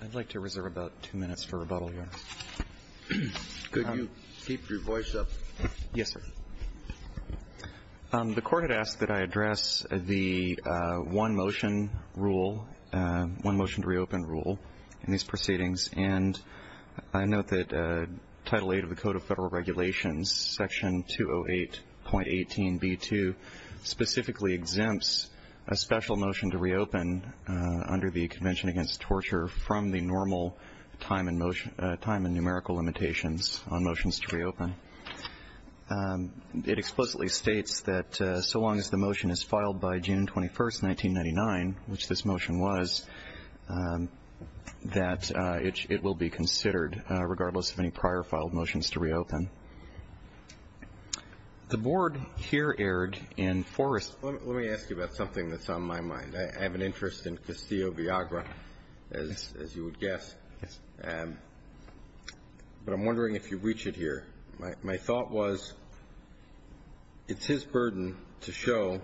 I'd like to reserve about two minutes for rebuttal here. Could you keep your voice up? Yes, sir. The court had asked that I address the one-motion rule, one-motion-to-reopen rule in these proceedings, and I note that Title VIII of the Code of Federal Regulations, Section 208.18b2, specifically exempts a special motion to reopen under the Convention Against Torture from the normal time and numerical limitations on motions to reopen. It explicitly states that so long as the motion is filed by June 21, 1999, which this motion was, that it will be considered regardless of any prior filed motions to reopen. The board here erred in force. Let me ask you about something that's on my mind. I have an interest in Castillo-Viagra, as you would guess. Yes. But I'm wondering if you reach it here. My thought was it's his burden to show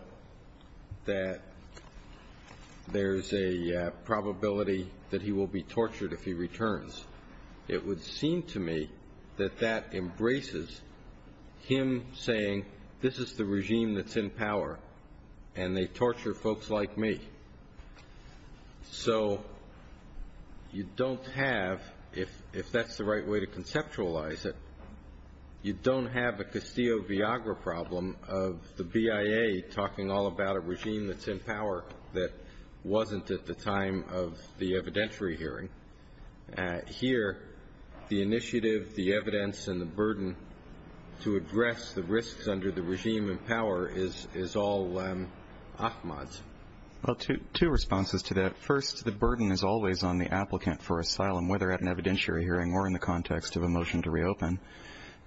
that there's a probability that he will be tortured if he returns. It would seem to me that that embraces him saying, this is the regime that's in power and they torture folks like me. So you don't have, if that's the right way to conceptualize it, you don't have a Castillo-Viagra problem of the BIA talking all about a regime that's in power that wasn't at the time of the evidentiary hearing. Here, the initiative, the evidence, and the burden to address the risks under the regime in power is all Ahmad's. Well, two responses to that. First, the burden is always on the applicant for asylum, whether at an evidentiary hearing or in the context of a motion to reopen.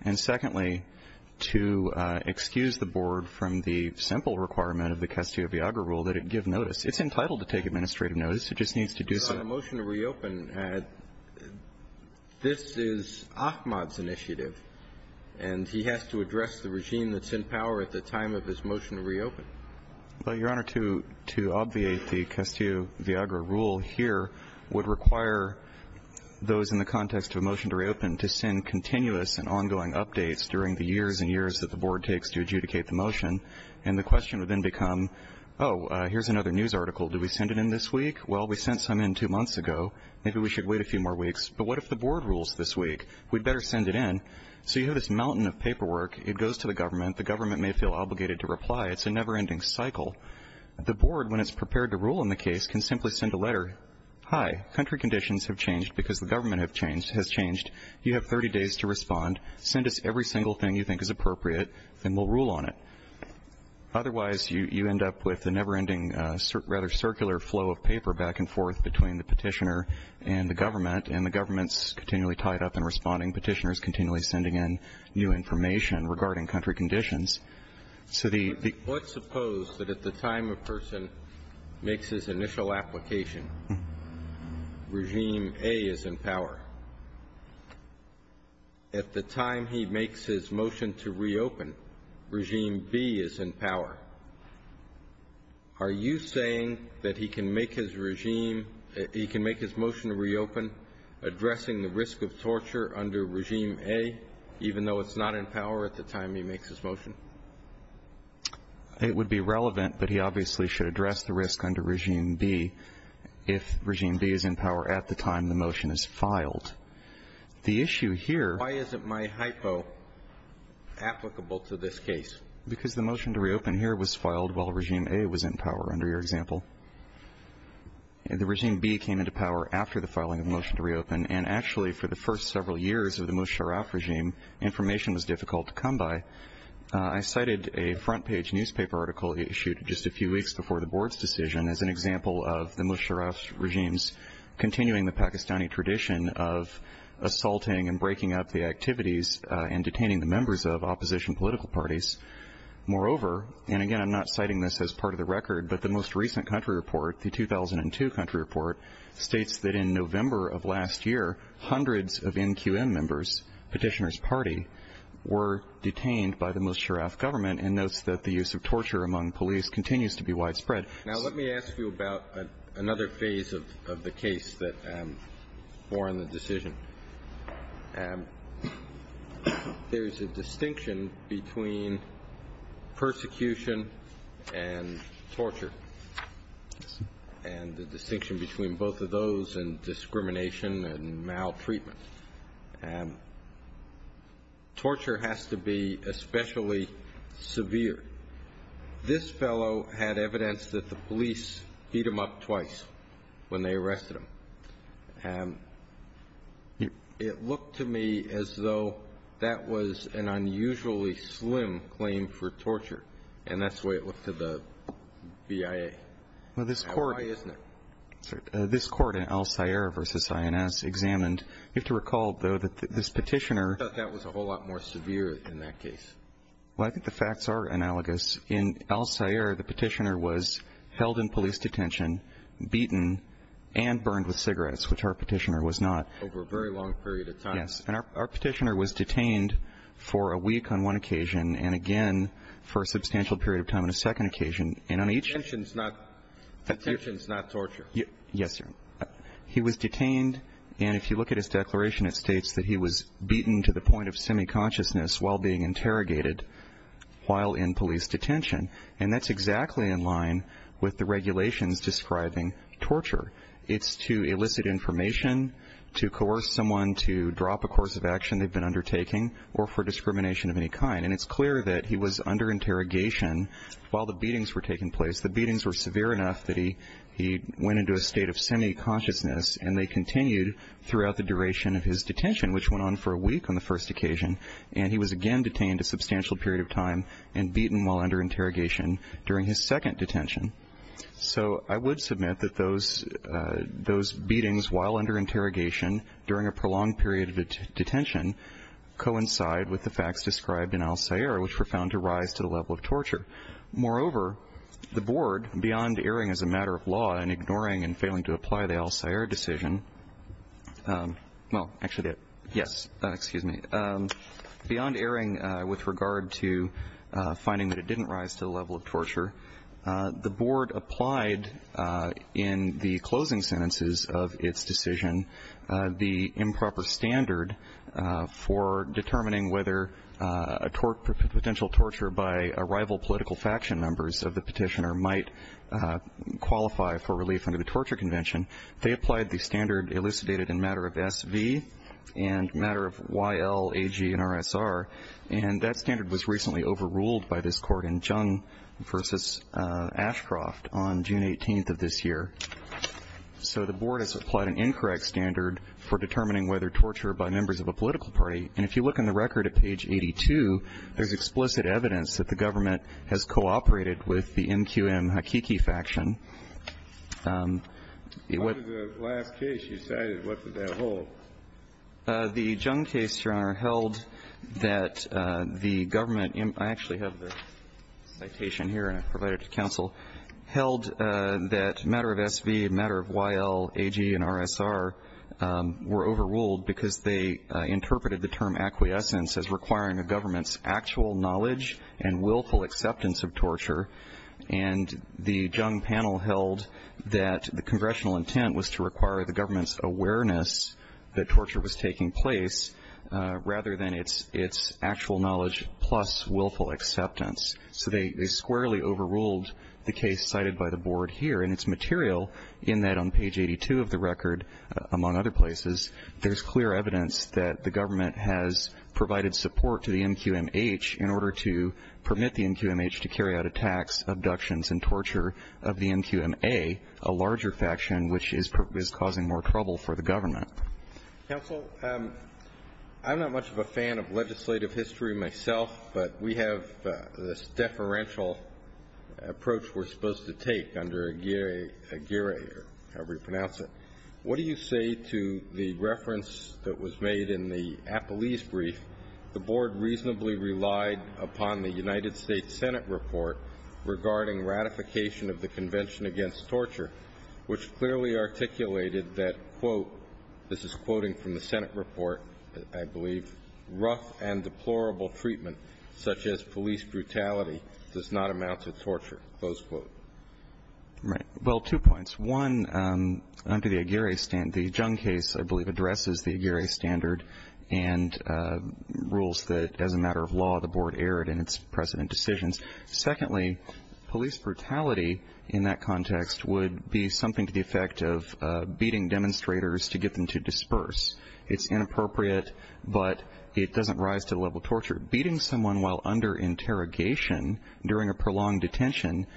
And secondly, to excuse the board from the simple requirement of the Castillo-Viagra rule that it give notice. It's entitled to take administrative notice. It just needs to do something. On the motion to reopen, this is Ahmad's initiative, and he has to address the regime that's in power at the time of his motion to reopen. Well, Your Honor, to obviate the Castillo-Viagra rule here would require those in the context of a motion to reopen to send continuous and ongoing updates during the years and years that the board takes to adjudicate the motion. And the question would then become, oh, here's another news article. Do we send it in this week? Well, we sent some in two months ago. Maybe we should wait a few more weeks. But what if the board rules this week? We'd better send it in. So you have this mountain of paperwork. It goes to the government. The government may feel obligated to reply. It's a never-ending cycle. The board, when it's prepared to rule on the case, can simply send a letter. Hi, country conditions have changed because the government has changed. You have 30 days to respond. Send us every single thing you think is appropriate, and we'll rule on it. Otherwise, you end up with the never-ending rather circular flow of paper back and forth between the petitioner and the government, and the government's continually tied up in responding. Petitioners continually sending in new information regarding country conditions. So the ---- Let's suppose that at the time a person makes his initial application, Regime A is in power. At the time he makes his motion to reopen, Regime B is in power. Are you saying that he can make his motion to reopen addressing the risk of torture under Regime A, even though it's not in power at the time he makes his motion? It would be relevant, but he obviously should address the risk under Regime B if Regime B is in power at the time the motion is filed. The issue here ---- Why isn't my hypo applicable to this case? Because the motion to reopen here was filed while Regime A was in power under your example. The Regime B came into power after the filing of the motion to reopen, and actually for the first several years of the Musharraf regime, information was difficult to come by. I cited a front-page newspaper article issued just a few weeks before the board's decision as an example of the Musharraf regime's continuing the Pakistani tradition of assaulting and breaking up the activities and detaining the members of opposition political parties. Moreover, and again I'm not citing this as part of the record, but the most recent country report, the 2002 country report, states that in November of last year, hundreds of NQM members, Petitioner's Party, were detained by the Musharraf government and notes that the use of torture among police continues to be widespread. Now let me ask you about another phase of the case that bore on the decision. There is a distinction between persecution and torture, and the distinction between both of those and discrimination and maltreatment. Torture has to be especially severe. This fellow had evidence that the police beat him up twice when they arrested him, and it looked to me as though that was an unusually slim claim for torture, and that's the way it looked to the BIA. Why isn't it? Well, this court in Al-Sayyar v. INS examined, you have to recall, though, that this petitioner I thought that was a whole lot more severe in that case. Well, I think the facts are analogous. In Al-Sayyar, the petitioner was held in police detention, beaten, and burned with cigarettes, which our petitioner was not. Over a very long period of time. Yes. And our petitioner was detained for a week on one occasion and again for a substantial period of time on a second occasion. And on each occasion he was detained, and if you look at his declaration, it states that he was beaten to the point of semi-consciousness while being interrogated while in police detention. And that's exactly in line with the regulations describing torture. It's to elicit information, to coerce someone to drop a course of action they've been undertaking, or for discrimination of any kind. And it's clear that he was under interrogation while the beatings were taking place. The beatings were severe enough that he went into a state of semi-consciousness, and they continued throughout the duration of his detention, which went on for a week on the first occasion. And he was again detained a substantial period of time and beaten while under interrogation during his second detention. So I would submit that those beatings while under interrogation during a prolonged period of detention coincide with the facts described in Al-Sayyar, which were found to rise to the level of torture. Moreover, the Board, beyond erring as a matter of law and ignoring and failing to apply the Al-Sayyar decision, well, actually, yes, excuse me, beyond erring with regard to finding that it didn't rise to the level of torture, the Board applied in the closing sentences of its decision the improper standard for determining whether a potential torture by rival political faction members of the petitioner might qualify for relief under the Torture Convention. They applied the standard elucidated in matter of SV and matter of YLAG and RSR, and that standard was recently overruled by this Court in Jung v. Ashcroft on June 18th of this year. So the Board has applied an incorrect standard for determining whether torture by members of a political party, and if you look in the record at page 82, there's explicit evidence that the government has cooperated with the MQM-Hakiki faction. It was the last case you cited. What did that hold? The Jung case, Your Honor, held that the government, I actually have the citation here, and I provided it to counsel, held that matter of SV, matter of YLAG and RSR were overruled because they interpreted the term acquiescence as requiring the government's actual knowledge and willful acceptance of torture, and the Jung panel held that the congressional intent was to require the government's awareness that torture was taking place rather than its actual knowledge plus willful acceptance. So they squarely overruled the case cited by the Board here, and it's material in that on page 82 of the record, among other places, there's clear evidence that the government has provided support to the MQM-H in order to permit the MQM-H to carry out attacks, abductions, and torture of the MQM-A, a larger faction which is causing more trouble for the government. Counsel, I'm not much of a fan of legislative history myself, but we have this deferential approach we're supposed to take under AGIRRA, however you pronounce it. What do you say to the reference that was made in the Appellee's brief, the Board reasonably relied upon the United States Senate report regarding ratification of the Convention Against Torture, which clearly articulated that, quote, this is quoting from the Senate report, I believe, rough and deplorable treatment such as police brutality does not amount to torture, close quote. Right. Well, two points. One, under the AGIRRA, the Jung case, I believe, addresses the AGIRRA standard and rules that as a matter of law the Board erred in its precedent decisions. Secondly, police brutality in that context would be something to the effect of beating demonstrators to get them to disperse. It's inappropriate, but it doesn't rise to the level of torture. Beating someone while under interrogation during a prolonged detention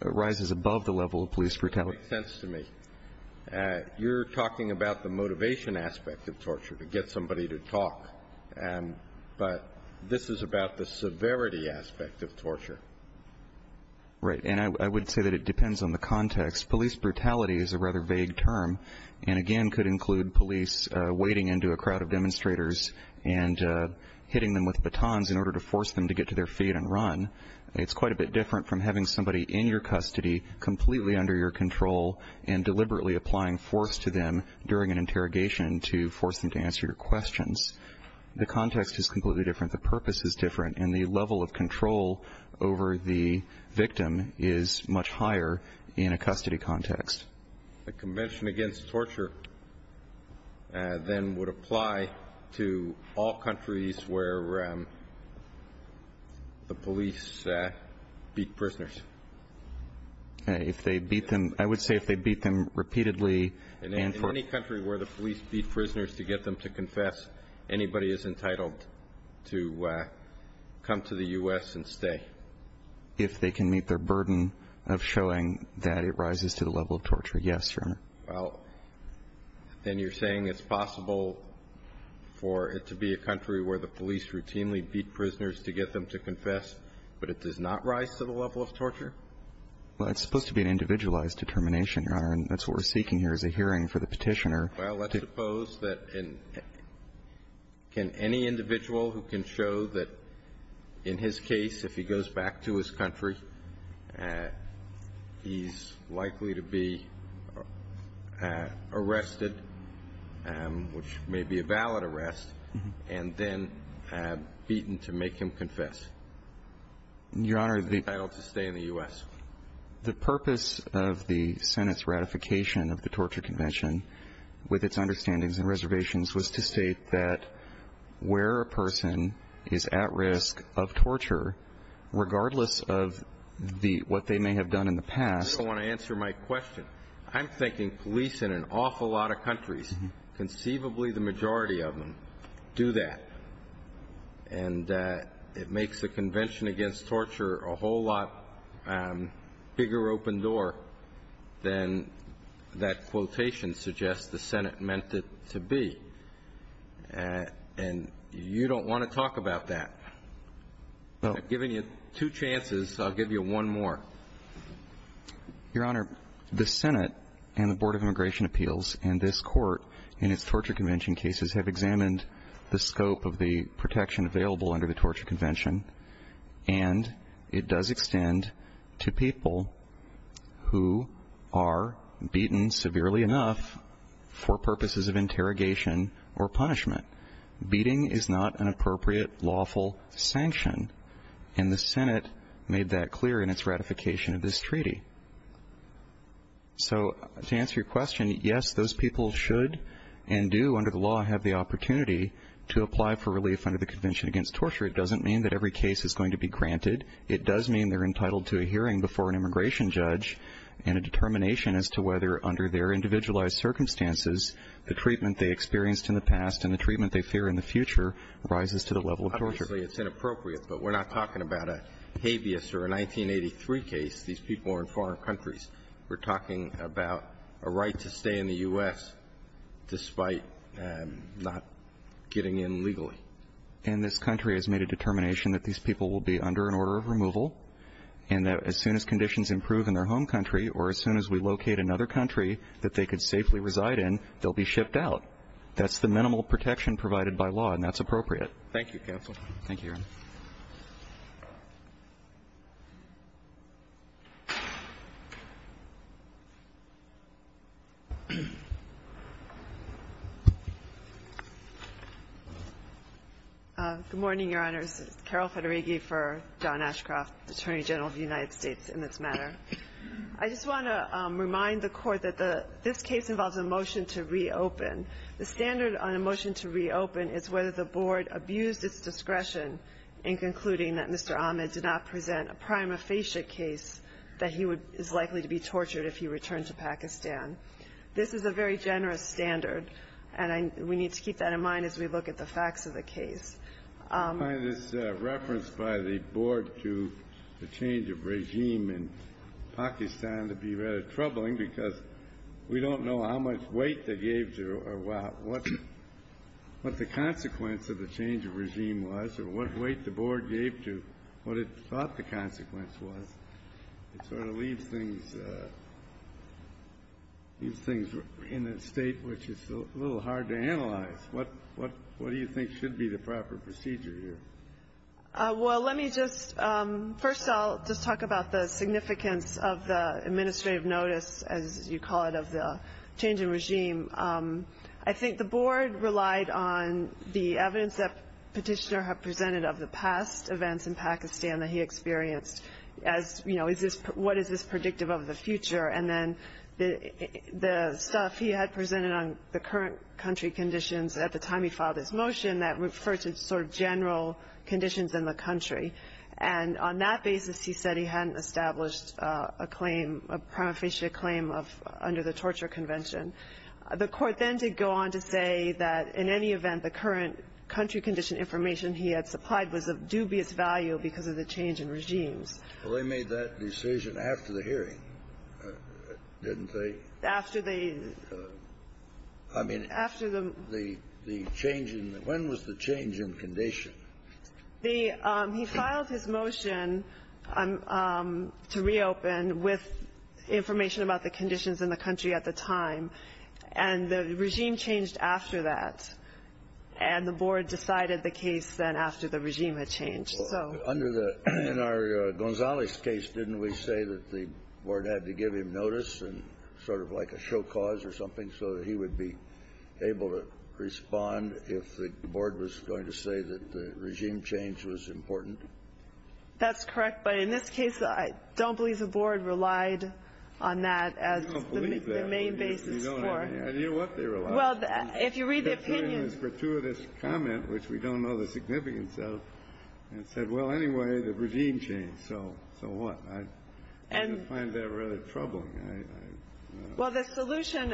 rises above the level of police brutality. It makes sense to me. You're talking about the motivation aspect of torture, to get somebody to talk, but this is about the severity aspect of torture. Right. And I would say that it depends on the context. Police brutality is a rather vague term and, again, could include police wading into a crowd of demonstrators and hitting them with batons in order to force them to get to their feet and run. It's quite a bit different from having somebody in your custody completely under your control and deliberately applying force to them during an interrogation to force them to answer your questions. The context is completely different. The purpose is different, and the level of control over the victim is much higher in a custody context. A convention against torture then would apply to all countries where the police beat prisoners. If they beat them, I would say if they beat them repeatedly and forcefully. In any country where the police beat prisoners to get them to confess, anybody is entitled to come to the U.S. and stay. If they can meet their burden of showing that it rises to the level of torture, yes, Your Honor. Well, then you're saying it's possible for it to be a country where the police routinely beat prisoners to get them to confess, but it does not rise to the level of torture? Well, it's supposed to be an individualized determination, Your Honor, and that's what we're seeking here is a hearing for the petitioner. Well, let's suppose that any individual who can show that in his case, if he goes back to his country, he's likely to be arrested, which may be a valid arrest, and then beaten to make him confess. Your Honor, the purpose of the Senate's ratification of the torture convention with its understandings and reservations was to state that where a person is at risk of torture, regardless of what they may have done in the past. I want to answer my question. I'm thinking police in an awful lot of countries, conceivably the majority of them, do that, and it makes the Convention Against Torture a whole lot bigger open door than that quotation suggests the Senate meant it to be, and you don't want to talk about that. I've given you two chances. I'll give you one more. Your Honor, the Senate and the Board of Immigration Appeals and this Court, in its torture convention cases, have examined the scope of the protection available under the torture convention, and it does extend to people who are beaten severely enough for purposes of interrogation or punishment. Beating is not an appropriate lawful sanction, and the Senate made that clear in its ratification of this treaty. So to answer your question, yes, those people should and do under the law have the opportunity to apply for relief under the Convention Against Torture. It doesn't mean that every case is going to be granted. It does mean they're entitled to a hearing before an immigration judge and a determination as to whether under their individualized circumstances the treatment they experienced in the past and the treatment they fear in the future rises to the level of torture. Obviously, it's inappropriate, but we're not talking about a habeas or a 1983 case. These people are in foreign countries. We're talking about a right to stay in the U.S. despite not getting in legally. And this country has made a determination that these people will be under an order of removal and that as soon as conditions improve in their home country or as soon as we locate another country that they could safely reside in, they'll be shipped out. That's the minimal protection provided by law, and that's appropriate. Thank you, counsel. Thank you, Your Honor. Good morning, Your Honors. Carol Federighi for John Ashcroft, Attorney General of the United States, in this matter. I just want to remind the Court that this case involves a motion to reopen. The standard on a motion to reopen is whether the Board abused its discretion in concluding that Mr. Ahmed did not present a prima facie case that he is likely to be tortured if he returned to Pakistan. This is a very generous standard, and we need to keep that in mind as we look at the facts of the case. I find this reference by the Board to the change of regime in Pakistan to be rather troubling because we don't know how much weight they gave to or what the consequence of the change of regime was or what weight the Board gave to what it thought the consequence was. It sort of leaves things in a state which is a little hard to analyze. What do you think should be the proper procedure here? Well, let me just — first, I'll just talk about the significance of the administrative notice, as you call it, of the change in regime. I think the Board relied on the evidence that Petitioner had presented of the past events in Pakistan that he experienced as, you know, what is this predictive of the future? And then the stuff he had presented on the current country conditions at the time he filed his motion that referred to sort of general conditions in the country. And on that basis, he said he hadn't established a claim, a prima facie claim of — under the torture convention. The Court then did go on to say that in any event, the current country condition information he had supplied was of dubious value because of the change in regimes. Well, they made that decision after the hearing, didn't they? After the — I mean — After the — The change in — when was the change in condition? The — he filed his motion to reopen with information about the conditions in the country at the time. And the regime changed after that. And the Board decided the case then after the regime had changed. So — Under the — in our Gonzales case, didn't we say that the Board had to give him notice and sort of like a show cause or something so that he would be able to respond if the Board was going to say that the regime change was important? That's correct. But in this case, I don't believe the Board relied on that as the main basis for — I don't believe that. You know what I mean. And you know what they relied on? Well, if you read the opinion — They relied on it for two of his comments, which we don't know the significance of, and said, well, anyway, the regime changed. So what? I just find that really troubling. I — Well, the solution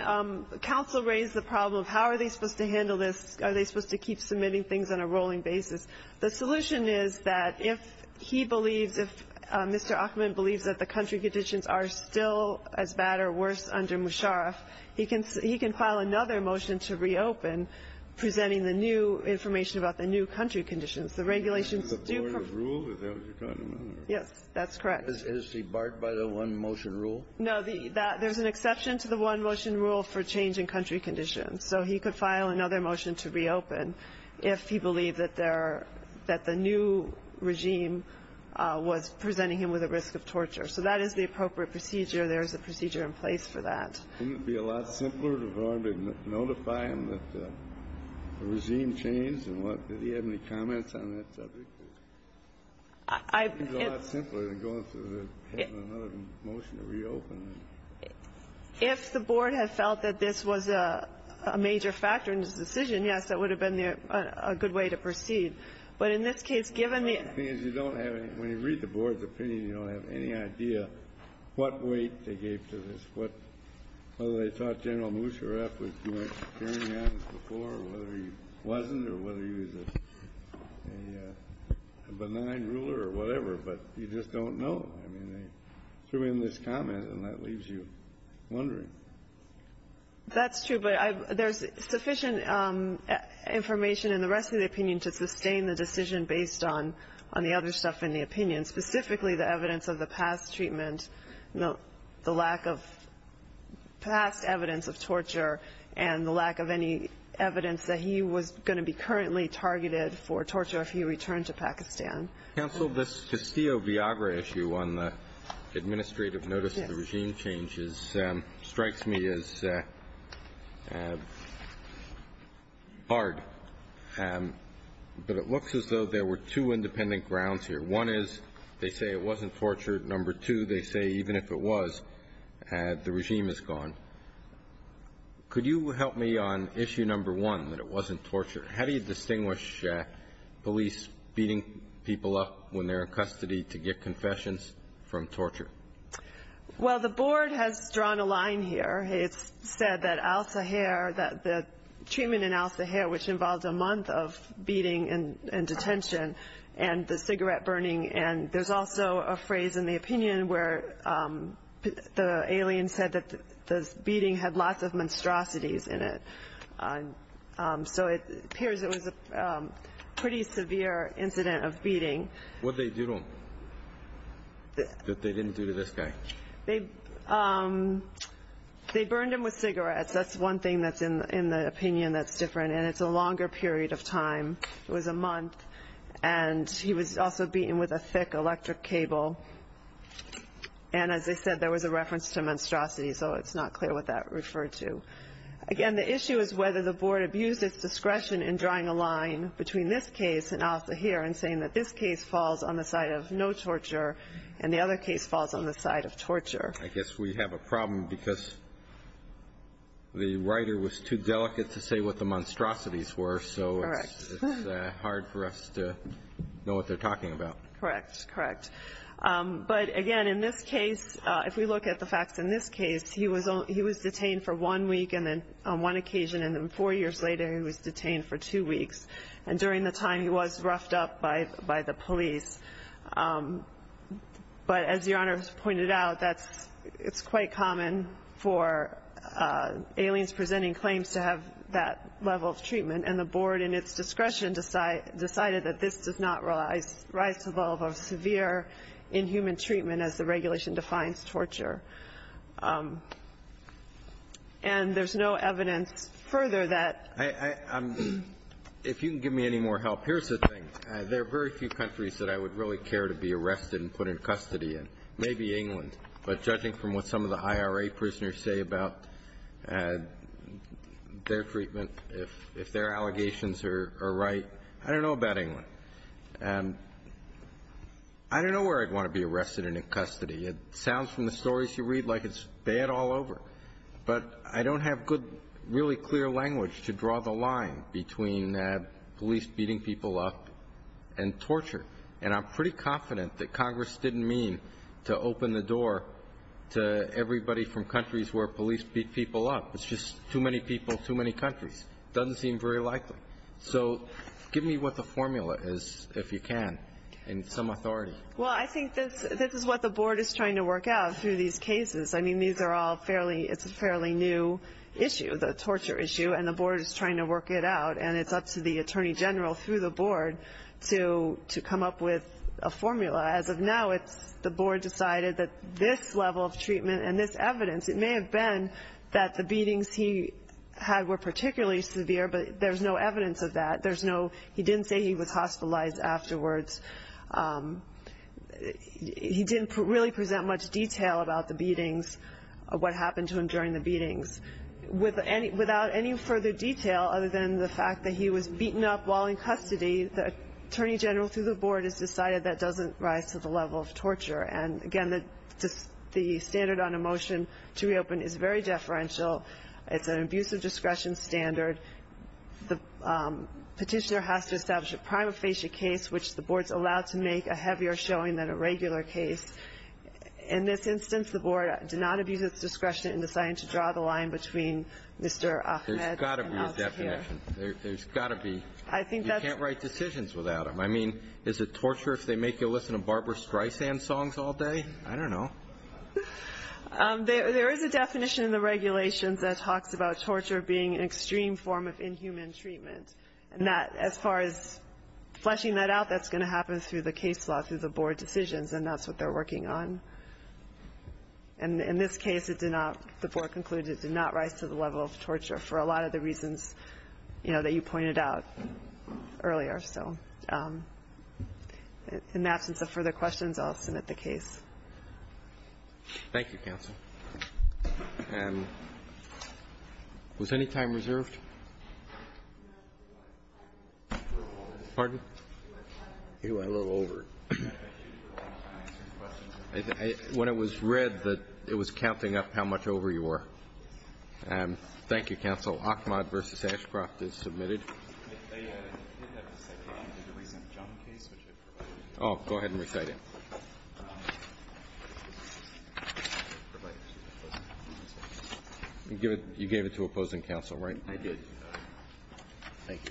— counsel raised the problem of how are they supposed to handle this. Are they supposed to keep submitting things on a rolling basis? The solution is that if he believes — if Mr. Achman believes that the country conditions are still as bad or worse under Musharraf, he can — he can file another motion to reopen presenting the new information about the new country conditions. The regulations do — Is it the Board's rule? Is that what you're talking about? Yes, that's correct. Is he barred by the one-motion rule? No, the — there's an exception to the one-motion rule for changing country conditions. So he could file another motion to reopen if he believed that there — that the new regime was presenting him with a risk of torture. So that is the appropriate procedure. There is a procedure in place for that. Wouldn't it be a lot simpler to go out and notify him that the regime changed and what — did he have any comments on that subject? I — It would be a lot simpler than going through and having another motion to reopen. If the Board had felt that this was a major factor in his decision, yes, that would have been a good way to proceed. But in this case, given the — The thing is, you don't have any — when you read the Board's opinion, you don't have any idea what weight they gave to this, what — whether they thought General Musharraf was carrying on as before or whether he wasn't or whether he was a benign ruler or whatever. But you just don't know. I mean, they threw in this comment, and that leaves you wondering. That's true. But I — there's sufficient information in the rest of the opinion to sustain the decision based on the other stuff in the opinion, specifically the evidence of the past treatment, the lack of past evidence of torture, and the lack of any evidence that he was going to be currently targeted for torture if he returned to Pakistan. Counsel, this Castillo-Viagra issue on the administrative notice of the regime changes strikes me as hard. But it looks as though there were two independent grounds here. One is they say it wasn't torture. Number two, they say even if it was, the regime is gone. Could you help me on issue number one, that it wasn't torture? How do you distinguish police beating people up when they're in custody to get confessions from torture? Well, the board has drawn a line here. It's said that al-Sahir, the treatment in al-Sahir, which involved a month of beating and detention and the cigarette burning. And there's also a phrase in the opinion where the alien said that the beating had lots of monstrosities in it. So it appears it was a pretty severe incident of beating. What did they do to him that they didn't do to this guy? They burned him with cigarettes. That's one thing that's in the opinion that's different. And it's a longer period of time. It was a month. And he was also beaten with a thick electric cable. And as I said, there was a reference to monstrosity, so it's not clear what that referred to. Again, the issue is whether the board abused its discretion in drawing a line between this case and al-Sahir in saying that this case falls on the side of no torture and the other case falls on the side of torture. I guess we have a problem because the writer was too delicate to say what the monstrosities were, so it's hard for us to know what they're talking about. Correct, correct. But, again, in this case, if we look at the facts in this case, he was detained for one week on one occasion, and then four years later, he was detained for two weeks. And during the time, he was roughed up by the police. But as Your Honor has pointed out, it's quite common for aliens presenting claims to have that level of treatment, and the board, in its discretion, decided that this does not rise above a severe inhuman treatment, as the And there's no evidence further that ---- If you can give me any more help, here's the thing. There are very few countries that I would really care to be arrested and put in custody in, maybe England. But judging from what some of the IRA prisoners say about their treatment, if their allegations are right, I don't know about England. I don't know where I'd want to be arrested and in custody. It sounds from the stories you read like it's bad all over. But I don't have good, really clear language to draw the line between police beating people up and torture. And I'm pretty confident that Congress didn't mean to open the door to everybody from countries where police beat people up. It's just too many people, too many countries. It doesn't seem very likely. So give me what the formula is, if you can, and some authority. Well, I think this is what the board is trying to work out through these cases. I mean, these are all fairly new issues, a torture issue, and the board is trying to work it out. And it's up to the Attorney General through the board to come up with a formula. As of now, the board decided that this level of treatment and this evidence, it may have been that the beatings he had were particularly severe, but there's no evidence of that. He didn't say he was hospitalized afterwards. He didn't really present much detail about the beatings, what happened to him during the beatings. Without any further detail other than the fact that he was beaten up while in custody, the Attorney General through the board has decided that doesn't rise to the level of torture. And, again, the standard on a motion to reopen is very deferential. It's an abuse of discretion standard. The petitioner has to establish a prima facie case, which the board is allowed to make a heavier showing than a regular case. In this instance, the board did not abuse its discretion in deciding to draw the line between Mr. Ahmed and Al Shakir. There's got to be a definition. There's got to be. You can't write decisions without them. I mean, is it torture if they make you listen to Barbara Streisand songs all day? I don't know. There is a definition in the regulations that talks about torture being an extreme form of inhuman treatment. As far as fleshing that out, that's going to happen through the case law, through the board decisions, and that's what they're working on. In this case, the board concluded it did not rise to the level of torture for a lot of the reasons that you pointed out earlier. So in the absence of further questions, I'll submit the case. Thank you, Counsel. Was any time reserved? Pardon? You were a little over. When it was read that it was counting up how much over you were. Thank you, Counsel. So Achmad v. Ashcroft is submitted. Go ahead and recite it. You gave it to opposing counsel, right? I did. Thank you.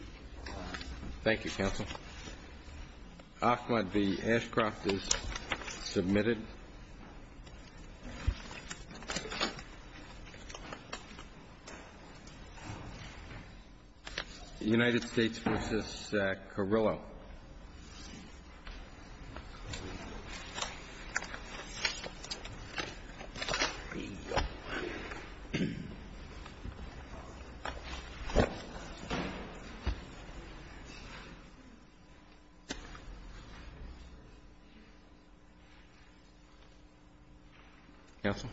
Thank you, Counsel. Achmad v. Ashcroft is submitted. United States v. Carrillo. Counsel?